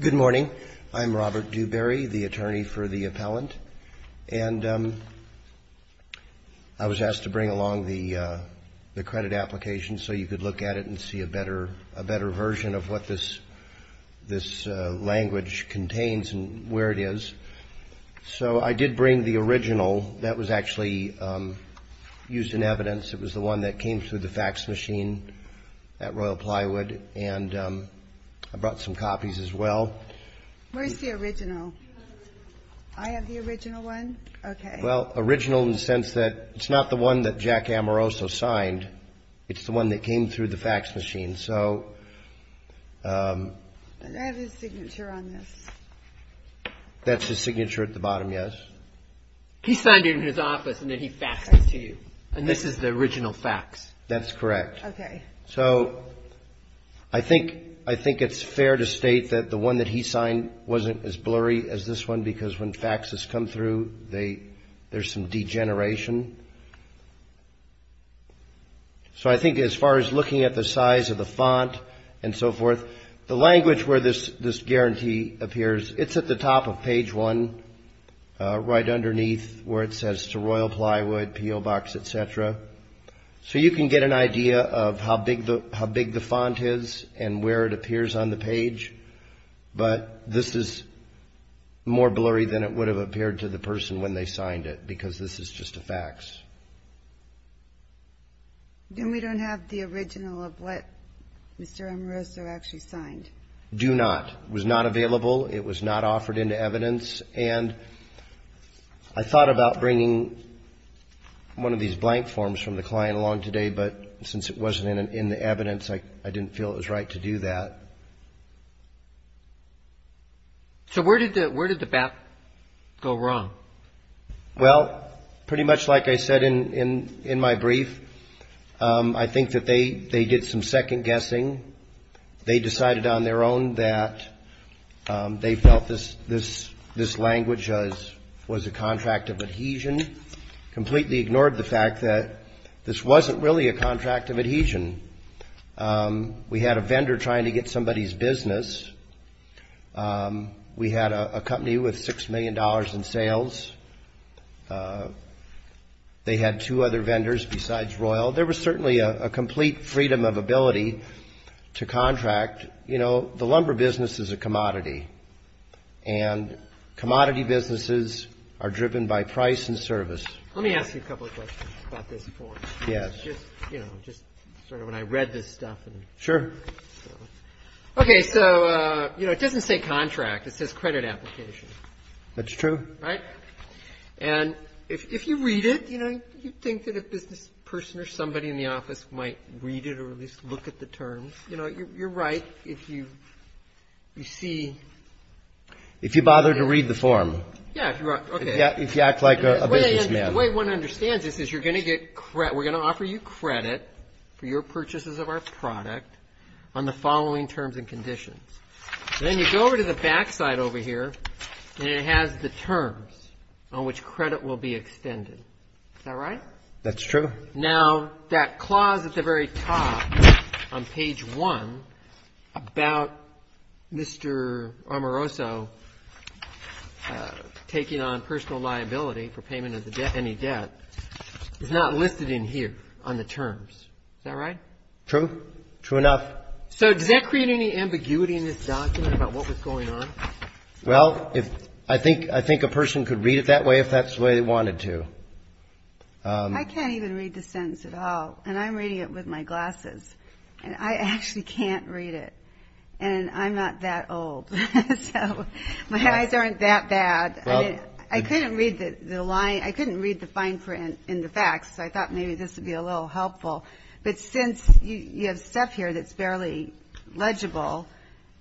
Good morning. I'm Robert Dewberry, the attorney for the appellant. And I was asked to bring along the credit application so you could look at it and see a better version of what this language contains and where it is. So I did bring the original that was actually used in evidence. It was the one that came through the fax machine at Royal Plywood. And I brought some copies as well. Where's the original? I have the original one. Okay. Well, original in the sense that it's not the one that Jack Amoroso signed. It's the one that came through the fax machine. I have his signature on this. That's his signature at the bottom, yes. He signed it in his office and then he faxed it to you. And this is the original fax. That's correct. Okay. So I think it's fair to state that the one that he signed wasn't as blurry as this one because when faxes come through, there's some degeneration. So I think as far as looking at the size of the font and so forth, the language where this guarantee appears, it's at the top of page one right underneath where it says to Royal Plywood, PO Box, et cetera. So you can get an idea of how big the font is and where it appears on the page. But this is more blurry than it would have appeared to the person when they signed it because this is just a fax. And we don't have the original of what Mr. Amoroso actually signed? Do not. It was not available. It was not offered into evidence. And I thought about bringing one of these blank forms from the client along today, but since it wasn't in the evidence, I didn't feel it was right to do that. So where did the back go wrong? Well, pretty much like I said in my brief, I think that they did some second guessing. They decided on their own that they felt this language was a contract of adhesion, completely ignored the fact that this wasn't really a contract of adhesion. We had a vendor trying to get somebody's business. We had a company with $6 million in sales. They had two other vendors besides Royal. There was certainly a complete freedom of ability to contract. You know, the lumber business is a commodity, and commodity businesses are driven by price and service. Let me ask you a couple of questions about this form. Yes. Just sort of when I read this stuff. Sure. Okay. So, you know, it doesn't say contract. It says credit application. That's true. Right? And if you read it, you know, you'd think that a business person or somebody in the office might read it or at least look at the terms. You know, you're right if you see. If you bother to read the form. Yeah, okay. If you act like a businessman. The way one understands this is you're going to get credit. We're going to offer you credit for your purchases of our product on the following terms and conditions. Then you go over to the back side over here, and it has the terms on which credit will be extended. Is that right? That's true. Now, that clause at the very top on page one about Mr. Amoroso taking on personal liability for payment of any debt is not listed in here on the terms. Is that right? True. True enough. So does that create any ambiguity in this document about what was going on? Well, I think a person could read it that way if that's the way they wanted to. I can't even read the sentence at all, and I'm reading it with my glasses, and I actually can't read it, and I'm not that old. So my eyes aren't that bad. I couldn't read the line. I couldn't read the fine print in the facts, so I thought maybe this would be a little helpful. But since you have stuff here that's barely legible,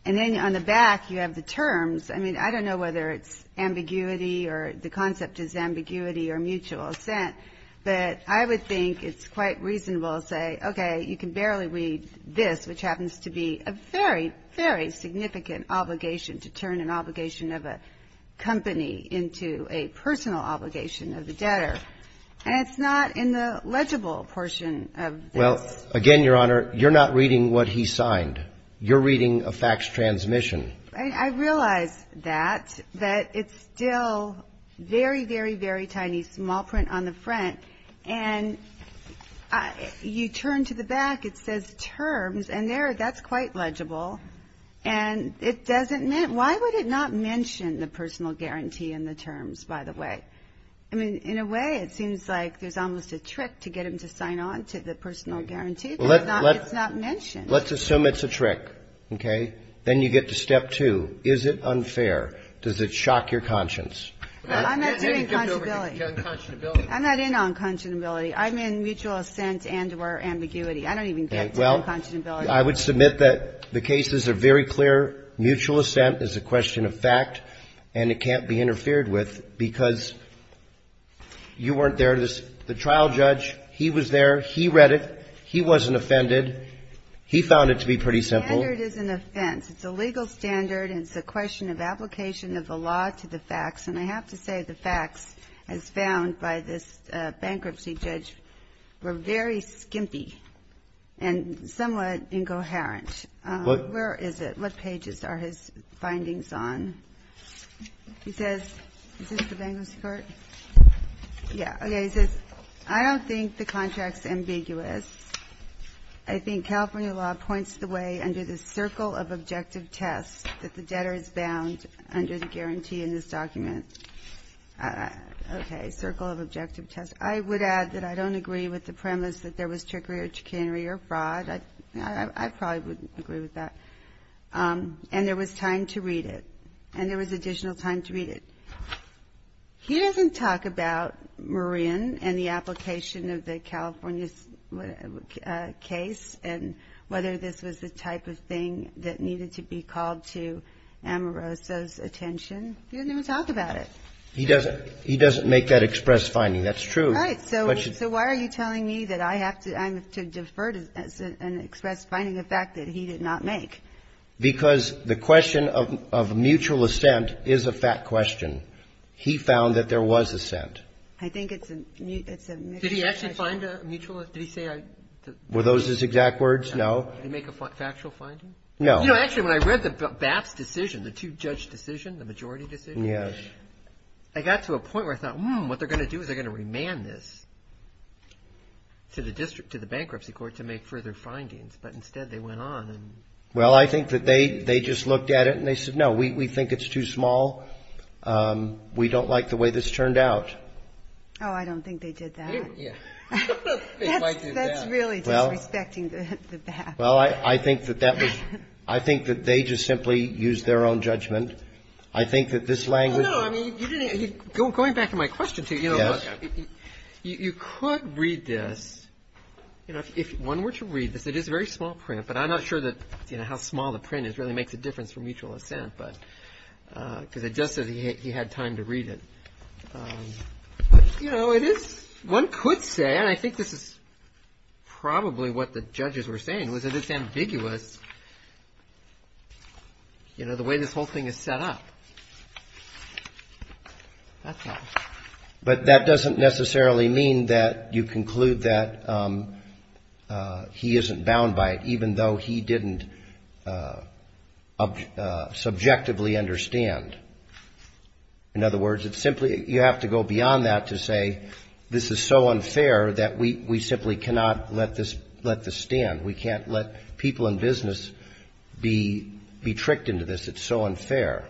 and then on the back you have the terms, I mean, I don't know whether it's ambiguity or the concept is ambiguity or mutual assent, but I would think it's quite reasonable to say, okay, you can barely read this, which happens to be a very, very significant obligation to turn an obligation of a company into a personal obligation of the debtor. And it's not in the legible portion of this. Well, again, Your Honor, you're not reading what he signed. You're reading a fax transmission. I realize that, that it's still very, very, very tiny, small print on the front, and you turn to the back, it says terms, and there, that's quite legible. And it doesn't mean why would it not mention the personal guarantee and the terms, by the way? I mean, in a way, it seems like there's almost a trick to get them to sign on to the personal guarantee. It's not mentioned. Let's assume it's a trick, okay? Then you get to step two. Is it unfair? Does it shock your conscience? I'm not doing conscionability. I'm not in on conscionability. I'm in mutual assent and or ambiguity. I don't even get to conscionability. Well, I would submit that the cases are very clear. Mutual assent is a question of fact, and it can't be interfered with because you weren't there. The trial judge, he was there. He read it. He wasn't offended. He found it to be pretty simple. The standard is an offense. It's a legal standard, and it's a question of application of the law to the facts. And I have to say the facts, as found by this bankruptcy judge, were very skimpy and somewhat incoherent. Where is it? What pages are his findings on? He says, is this the bankruptcy court? Yeah. Okay. He says, I don't think the contract is ambiguous. I think California law points the way under the circle of objective tests that the debtor is bound under the guarantee in this document. Okay. Circle of objective tests. I would add that I don't agree with the premise that there was trickery or chicanery or fraud. I probably wouldn't agree with that. And there was time to read it. And there was additional time to read it. He doesn't talk about Marin and the application of the California case and whether this was the type of thing that needed to be called to Amoroso's attention. He doesn't even talk about it. He doesn't. He doesn't make that express finding. That's true. Right. So why are you telling me that I have to defer to an express finding, a fact that he did not make? Because the question of mutual assent is a fact question. He found that there was assent. I think it's a mutual question. Did he actually find a mutual assent? Did he say? Were those his exact words? No. Did he make a factual finding? No. You know, actually, when I read BAP's decision, the two-judge decision, the majority decision. Yes. I got to a point where I thought, hmm, what they're going to do is they're going to remand this to the bankruptcy court to make further findings. But instead they went on. Well, I think that they just looked at it and they said, no, we think it's too small. We don't like the way this turned out. Oh, I don't think they did that. Yeah. They might do that. That's really disrespecting the BAP. Well, I think that that was – I think that they just simply used their own judgment. I think that this language – No, no. I mean, you didn't – going back to my question, too, you know what? Yes. You could read this. You know, if one were to read this, it is a very small print, but I'm not sure that, you know, how small the print is really makes a difference for mutual assent. But – because it just says he had time to read it. You know, it is – one could say, and I think this is probably what the judges were saying, was that it's ambiguous, you know, the way this whole thing is set up. That's all. But that doesn't necessarily mean that you conclude that he isn't bound by it, even though he didn't subjectively understand. In other words, it's simply – you have to go beyond that to say this is so unfair that we simply cannot let this stand. We can't let people in business be tricked into this. I mean, why is it so unfair?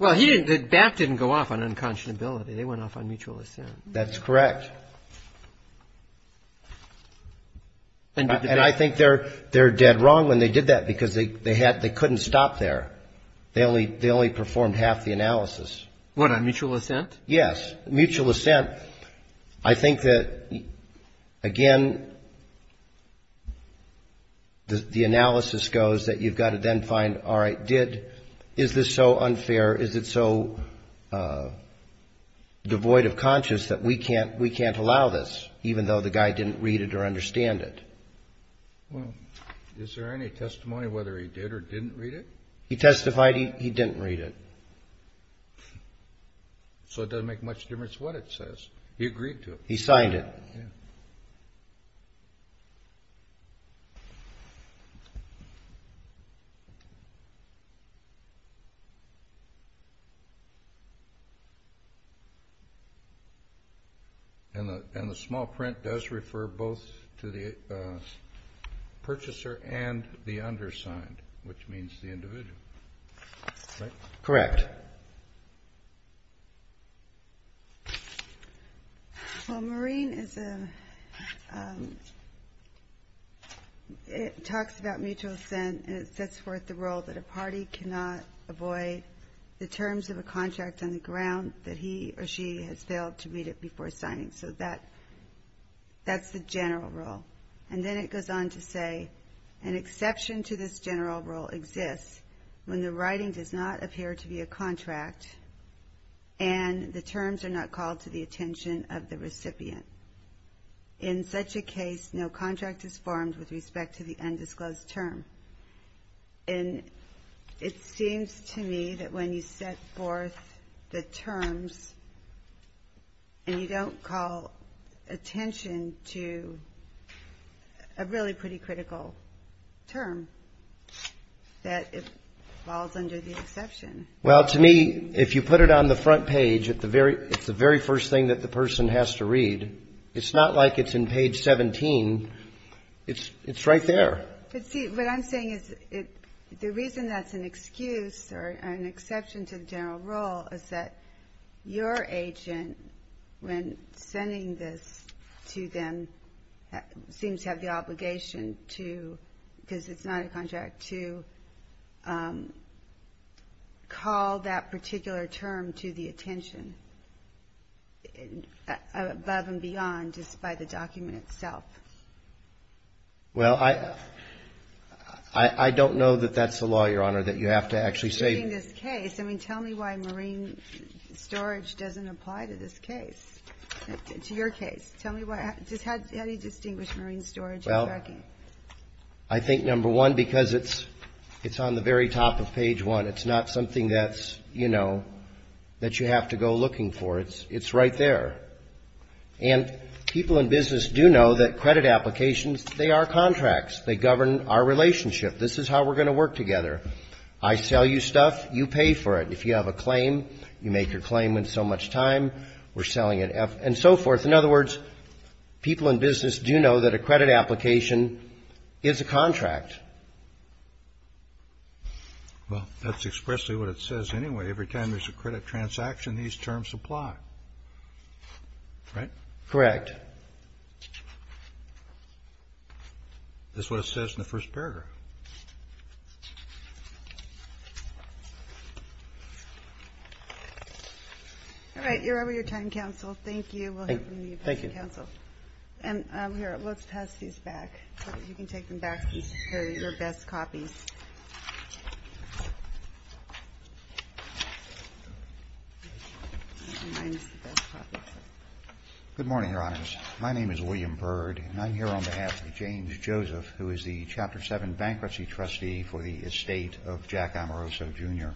Well, he didn't – Bach didn't go off on unconscionability. They went off on mutual assent. That's correct. And I think they're dead wrong when they did that because they couldn't stop there. They only performed half the analysis. What, on mutual assent? Yes, mutual assent. I think that, again, the analysis goes that you've got to then find, all right, did – is this so unfair? Is it so devoid of conscience that we can't allow this, even though the guy didn't read it or understand it? Well, is there any testimony whether he did or didn't read it? He testified he didn't read it. So it doesn't make much difference what it says. He agreed to it. He signed it. And the small print does refer both to the purchaser and the undersigned, which means the individual, right? Correct. Well, Maureen is a – talks about mutual assent, and it sets forth the role that a party cannot avoid the terms of a contract on the ground that he or she has failed to read it before signing. So that's the general rule. And then it goes on to say, an exception to this general rule exists when the writing does not appear to be a contract and the terms are not called to the attention of the recipient. In such a case, no contract is formed with respect to the undisclosed term. And it seems to me that when you set forth the terms and you don't call attention to a really pretty critical term, that it falls under the exception. Well, to me, if you put it on the front page, it's the very first thing that the person has to read. It's not like it's in page 17. It's right there. But see, what I'm saying is the reason that's an excuse or an exception to the general rule is that your agent, when sending this to them, seems to have the obligation to, because it's not a contract, to call that particular term to the attention, above and beyond just by the document itself. Well, I don't know that that's the law, Your Honor, that you have to actually say. In this case, I mean, tell me why marine storage doesn't apply to this case, to your case. Tell me how do you distinguish marine storage and tracking? Well, I think, number one, because it's on the very top of page one. It's not something that's, you know, that you have to go looking for. It's right there. And people in business do know that credit applications, they are contracts. They govern our relationship. This is how we're going to work together. I sell you stuff, you pay for it. If you have a claim, you make your claim in so much time, we're selling it, and so forth. In other words, people in business do know that a credit application is a contract. Correct. Well, that's expressly what it says anyway. Every time there's a credit transaction, these terms apply. Right? Correct. That's what it says in the first paragraph. All right. You're over your time, counsel. Thank you. Thank you. And here, let's pass these back. You can take them back. These are your best copies. Good morning, Your Honors. My name is William Bird, and I'm here on behalf of James Joseph, who is the Chapter 7 bankruptcy trustee for the estate of Jack Amoroso, Jr.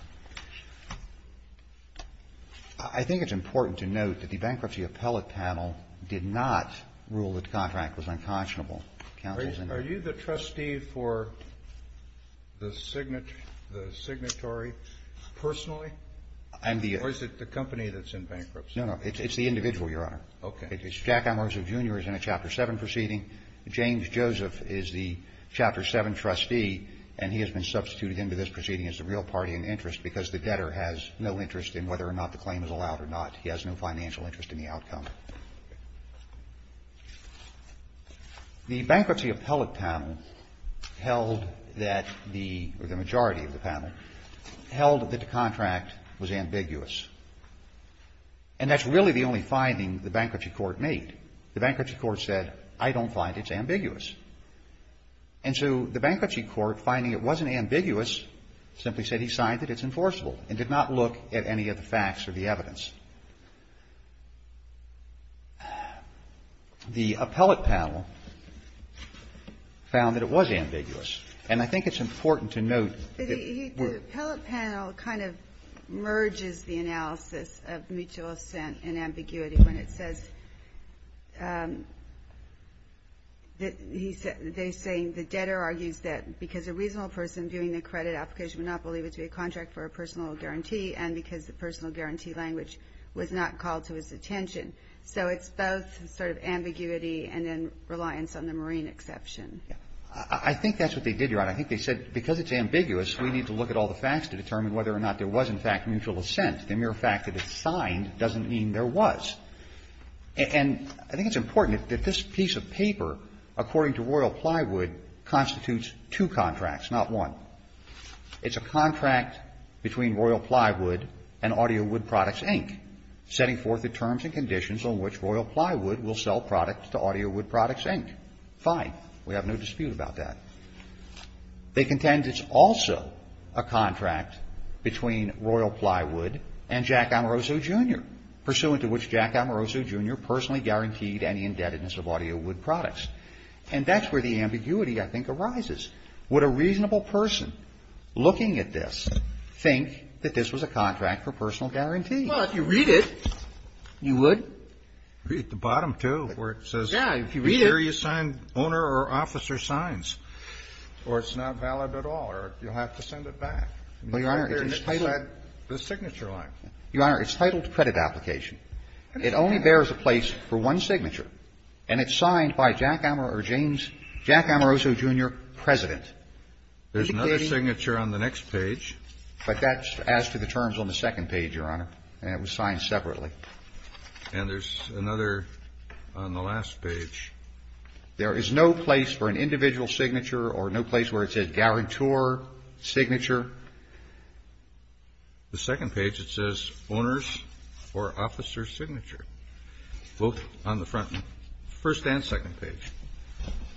I think it's important to note that the bankruptcy appellate panel did not rule that the contract was unconscionable. Are you the trustee for the signatory personally, or is it the company that's in bankruptcy? No, no. It's the individual, Your Honor. Okay. Jack Amoroso, Jr. is in a Chapter 7 proceeding. James Joseph is the Chapter 7 trustee, and he has been substituted into this proceeding as the real party in interest because the debtor has no interest in whether or not the claim is allowed or not. He has no financial interest in the outcome. The bankruptcy appellate panel held that the, or the majority of the panel, held that the contract was ambiguous. And that's really the only finding the bankruptcy court made. The bankruptcy court said, I don't find it's ambiguous. And so the bankruptcy court, finding it wasn't ambiguous, simply said he signed that it's enforceable and did not look at any of the facts or the evidence. The appellate panel found that it was ambiguous. And I think it's important to note that we're ---- The appellate panel kind of merges the analysis of mutual assent and ambiguity when it says that they say the debtor argues that because a reasonable person viewing the credit application would not believe it to be a contract for a personal guarantee and because the personal guarantee language was not called to his attention. So it's both sort of ambiguity and then reliance on the marine exception. I think that's what they did, Your Honor. I think they said because it's ambiguous, we need to look at all the facts to determine whether or not there was, in fact, mutual assent. The mere fact that it's signed doesn't mean there was. And I think it's important that this piece of paper, according to Royal Plywood, constitutes two contracts, not one. It's a contract between Royal Plywood and Audio Wood Products, Inc., setting forth the terms and conditions on which Royal Plywood will sell products to Audio Wood Products, Inc. Fine. We have no dispute about that. They contend it's also a contract between Royal Plywood and Jack Amoroso, Jr., pursuant to which Jack Amoroso, Jr. personally guaranteed any indebtedness of Audio Wood Products. And that's where the ambiguity, I think, arises. Would a reasonable person looking at this think that this was a contract for personal guarantee? Well, if you read it, you would. Read the bottom, too, where it says. Yeah, if you read it. Here you sign owner or officer signs. Or it's not valid at all, or you'll have to send it back. Well, Your Honor, it's titled. The signature line. Your Honor, it's titled credit application. It only bears a place for one signature, and it's signed by Jack Amoroso, Jr., the President. There's another signature on the next page. But that's as to the terms on the second page, Your Honor, and it was signed separately. And there's another on the last page. There is no place for an individual signature or no place where it says guarantor signature. The second page, it says owner's or officer's signature, both on the front, first and second page.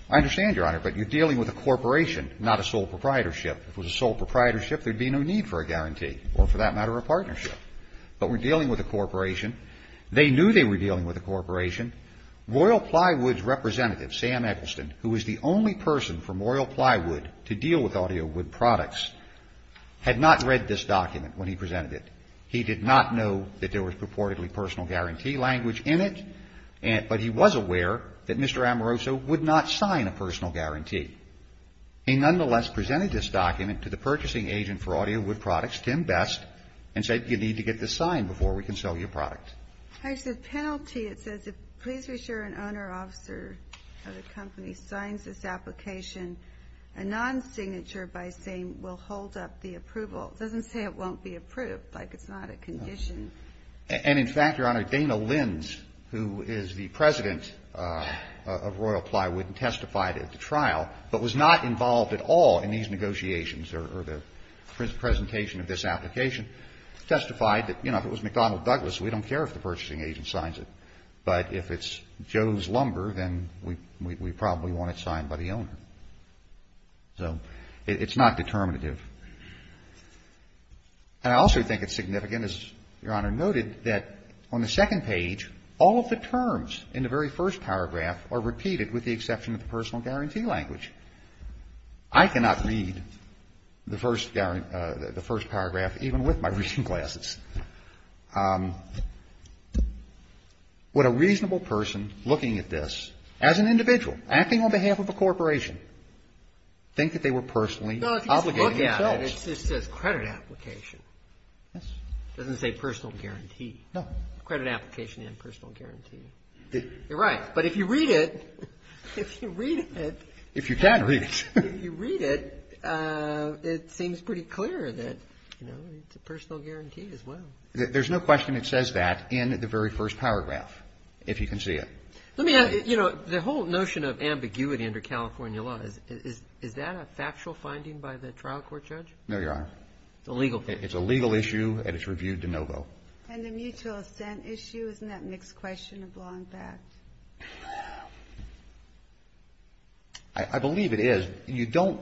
I understand, Your Honor, but you're dealing with a corporation, not a sole proprietorship. If it was a sole proprietorship, there would be no need for a guarantee or, for that matter, a partnership. But we're dealing with a corporation. They knew they were dealing with a corporation. Royal Plywood's representative, Sam Eggleston, who was the only person from Royal Plywood to deal with audio wood products, had not read this document when he presented it. He did not know that there was purportedly personal guarantee language in it, but he was aware that Mr. Amoroso would not sign a personal guarantee. He nonetheless presented this document to the purchasing agent for audio wood products, Tim Best, and said, you need to get this signed before we can sell you a product. Actually, the penalty, it says, please be sure an owner or officer of the company signs this application, a non-signature by saying we'll hold up the approval. It doesn't say it won't be approved, like it's not a condition. And, in fact, Your Honor, Dana Lins, who is the president of Royal Plywood and testified at the trial, but was not involved at all in these negotiations or the presentation of this application, testified that, you know, if it was McDonnell Douglas, we don't care if the purchasing agent signs it. But if it's Joe's Lumber, then we probably want it signed by the owner. So it's not determinative. And I also think it's significant, as Your Honor noted, that on the second page, all of the terms in the very first paragraph are repeated with the exception of the personal guarantee language. I cannot read the first paragraph even with my reading glasses. Would a reasonable person looking at this as an individual, acting on behalf of a corporation, think that they were personally obligating themselves? No, if you just look at it, it says credit application. It doesn't say personal guarantee. No. Credit application and personal guarantee. You're right. But if you read it, if you read it. If you can read it. If you read it, it seems pretty clear that, you know, it's a personal guarantee as well. There's no question it says that in the very first paragraph, if you can see it. Let me add, you know, the whole notion of ambiguity under California law, is that a factual finding by the trial court judge? No, Your Honor. It's a legal finding. It's a legal issue, and it's reviewed de novo. And the mutual assent issue, isn't that a mixed question of law and fact? I believe it is. You don't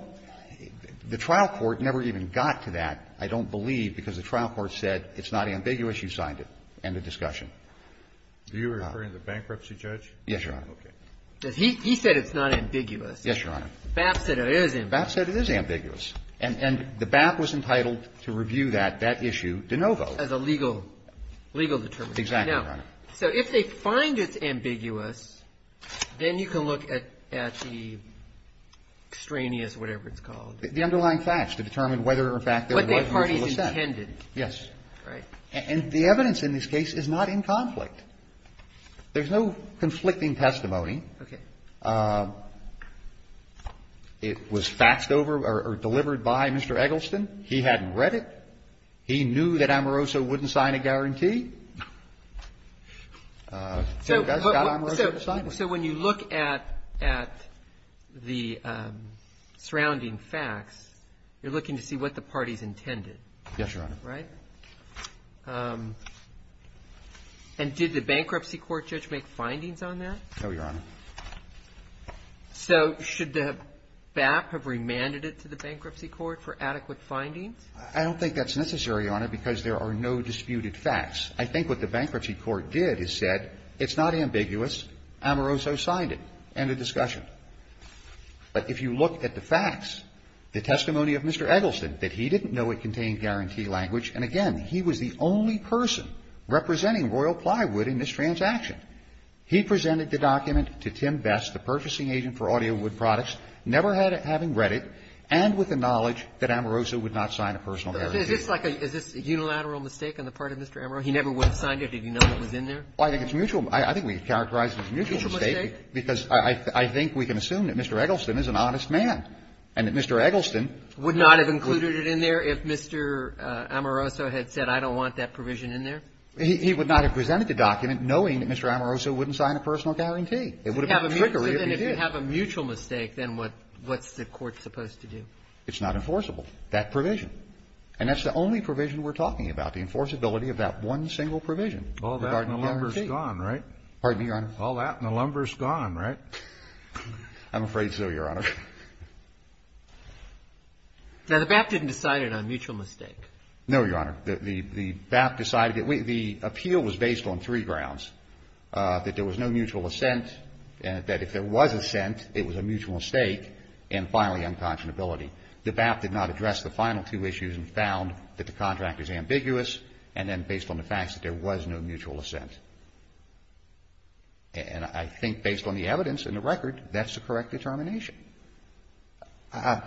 the trial court never even got to that, I don't believe, because the trial court said it's not ambiguous. You signed it. End of discussion. Are you referring to the bankruptcy judge? Yes, Your Honor. Okay. He said it's not ambiguous. Yes, Your Honor. BAP said it is. BAP said it is ambiguous. And the BAP was entitled to review that, that issue, de novo. As a legal, legal determination. Exactly, Your Honor. Now, so if they find it's ambiguous, then you can look at the extraneous, whatever it's called. The underlying facts to determine whether or not there was a mutual assent. What the parties intended. Right. And the evidence in this case is not in conflict. There's no conflicting testimony. Okay. It was faxed over or delivered by Mr. Eggleston. He hadn't read it. He knew that Amoroso wouldn't sign a guarantee. So you guys got Amoroso to sign it. So when you look at the surrounding facts, you're looking to see what the parties intended. Yes, Your Honor. Right. And did the bankruptcy court judge make findings on that? No, Your Honor. So should the BAP have remanded it to the bankruptcy court for adequate findings? I don't think that's necessary, Your Honor, because there are no disputed facts. I think what the bankruptcy court did is said it's not ambiguous, Amoroso signed it. End of discussion. But if you look at the facts, the testimony of Mr. Eggleston, that he didn't know it contained guarantee language. And, again, he was the only person representing Royal Plywood in this transaction. He presented the document to Tim Best, the purchasing agent for Audio Wood Products, never having read it, and with the knowledge that Amoroso would not sign a personal guarantee. Is this like a unilateral mistake on the part of Mr. Amoroso? He never would have signed it if he knew it was in there? I think it's mutual. I think we can characterize it as a mutual mistake because I think we can assume that Mr. Eggleston is an honest man and that Mr. Eggleston would not have included it in there if Mr. Amoroso had said I don't want that provision in there. He would not have presented the document knowing that Mr. Amoroso wouldn't sign a personal guarantee. It would have been a trickery if he did. So then if you have a mutual mistake, then what's the court supposed to do? It's not enforceable, that provision. And that's the only provision we're talking about, the enforceability of that one single provision regarding guarantee. All that and the lumber is gone, right? Pardon me, Your Honor? All that and the lumber is gone, right? I'm afraid so, Your Honor. Now, the BAP didn't decide it on mutual mistake. No, Your Honor. The BAP decided it. The appeal was based on three grounds, that there was no mutual assent, that if there was assent, it was a mutual mistake, and finally, unconscionability. The BAP did not address the final two issues and found that the contract is ambiguous and then based on the facts that there was no mutual assent. And I think based on the evidence and the record, that's the correct determination. How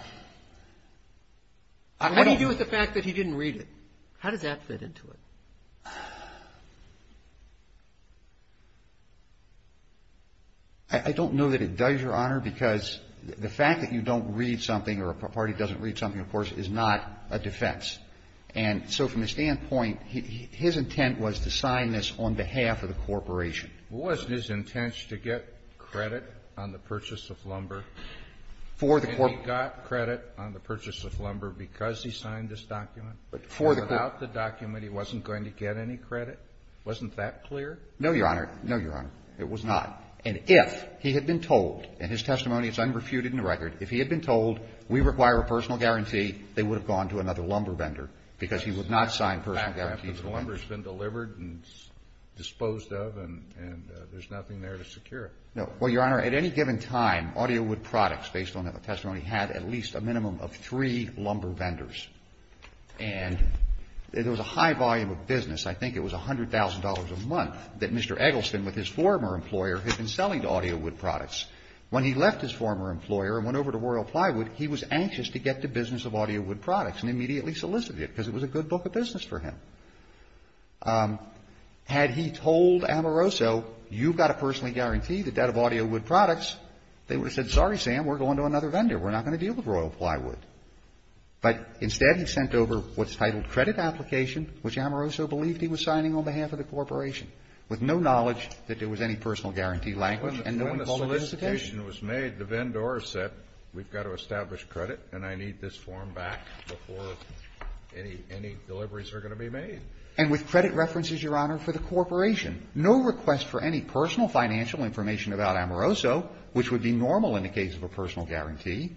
do you deal with the fact that he didn't read it? How does that fit into it? I don't know that it does, Your Honor, because the fact that you don't read something or a party doesn't read something, of course, is not a defense. And so from a standpoint, his intent was to sign this on behalf of the corporation. Wasn't his intent to get credit on the purchase of lumber? For the corporation. And he got credit on the purchase of lumber because he signed this document? For the corporation. And without the document, he wasn't going to get any credit? Wasn't that clear? No, Your Honor. No, Your Honor. It was not. And if he had been told, and his testimony is unrefuted in the record, if he had been told, we require a personal guarantee, they would have gone to another lumber vendor because he would not sign personal guarantees. The lumber has been delivered and disposed of and there's nothing there to secure it. No. Well, Your Honor, at any given time, Audio Wood Products, based on the testimony, had at least a minimum of three lumber vendors. And there was a high volume of business, I think it was $100,000 a month, that Mr. Eggleston, with his former employer, had been selling to Audio Wood Products. When he left his former employer and went over to Royal Plywood, he was anxious to get to business of Audio Wood Products and immediately solicited it because it was a good book of business for him. Had he told Amoroso, you've got to personally guarantee the debt of Audio Wood Products, they would have said, sorry, Sam, we're going to another vendor. We're not going to deal with Royal Plywood. But instead, he sent over what's titled credit application, which Amoroso believed he was signing on behalf of the corporation, with no knowledge that there was any personal guarantee language and no one called it a solicitation. When the solicitation was made, the vendor said, we've got to establish credit and I believe any deliveries are going to be made. And with credit references, Your Honor, for the corporation, no request for any personal financial information about Amoroso, which would be normal in the case of a personal guarantee.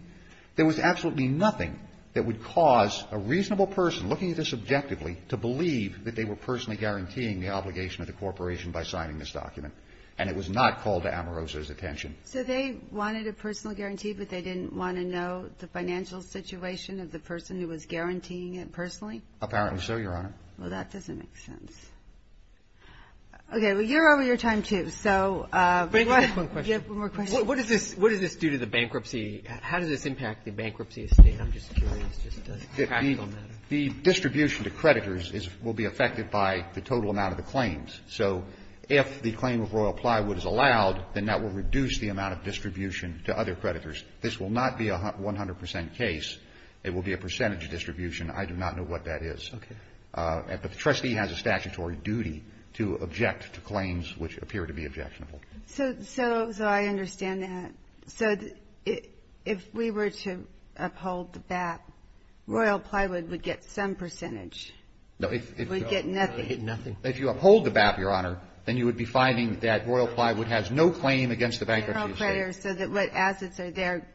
There was absolutely nothing that would cause a reasonable person looking at this objectively to believe that they were personally guaranteeing the obligation of the corporation by signing this document. And it was not called to Amoroso's attention. So they wanted a personal guarantee, but they didn't want to know the financial situation of the person who was guaranteeing it personally? Apparently so, Your Honor. Well, that doesn't make sense. Okay. Well, you're over your time, too. So if you have one more question. What does this do to the bankruptcy? How does this impact the bankruptcy of State? I'm just curious, just a practical matter. The distribution to creditors will be affected by the total amount of the claims. So if the claim of Royal Plywood is allowed, then that will reduce the amount of distribution to other creditors. This will not be a 100% case. It will be a percentage distribution. I do not know what that is. Okay. The trustee has a statutory duty to object to claims which appear to be objectionable. So I understand that. So if we were to uphold the BAP, Royal Plywood would get some percentage. No. It would get nothing. Nothing. If you uphold the BAP, Your Honor, then you would be finding that Royal Plywood has no claim against the bankruptcy of State. So what assets are there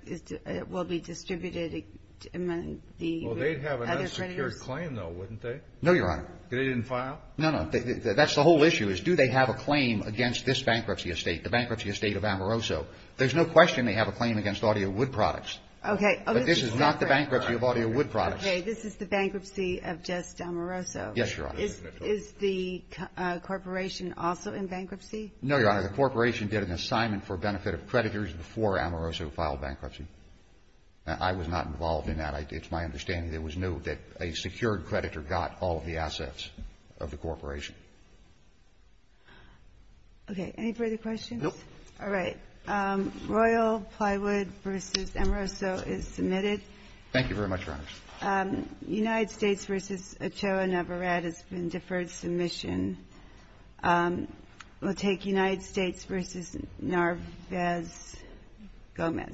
will be distributed among the other creditors? Well, they'd have an unsecured claim, though, wouldn't they? No, Your Honor. They didn't file? No, no. That's the whole issue is do they have a claim against this bankruptcy of State, the bankruptcy of State of Amoroso? There's no question they have a claim against Audio Wood Products. Okay. But this is not the bankruptcy of Audio Wood Products. Okay. This is the bankruptcy of just Amoroso. Yes, Your Honor. Is the corporation also in bankruptcy? No, Your Honor. The corporation did an assignment for benefit of creditors before Amoroso filed bankruptcy. I was not involved in that. It's my understanding it was new that a secured creditor got all of the assets of the corporation. Okay. Any further questions? No. All right. Royal Plywood v. Amoroso is submitted. Thank you very much, Your Honor. United States v. Ochoa Navarrete has been deferred submission. We'll take United States v. Narvaez Gomez.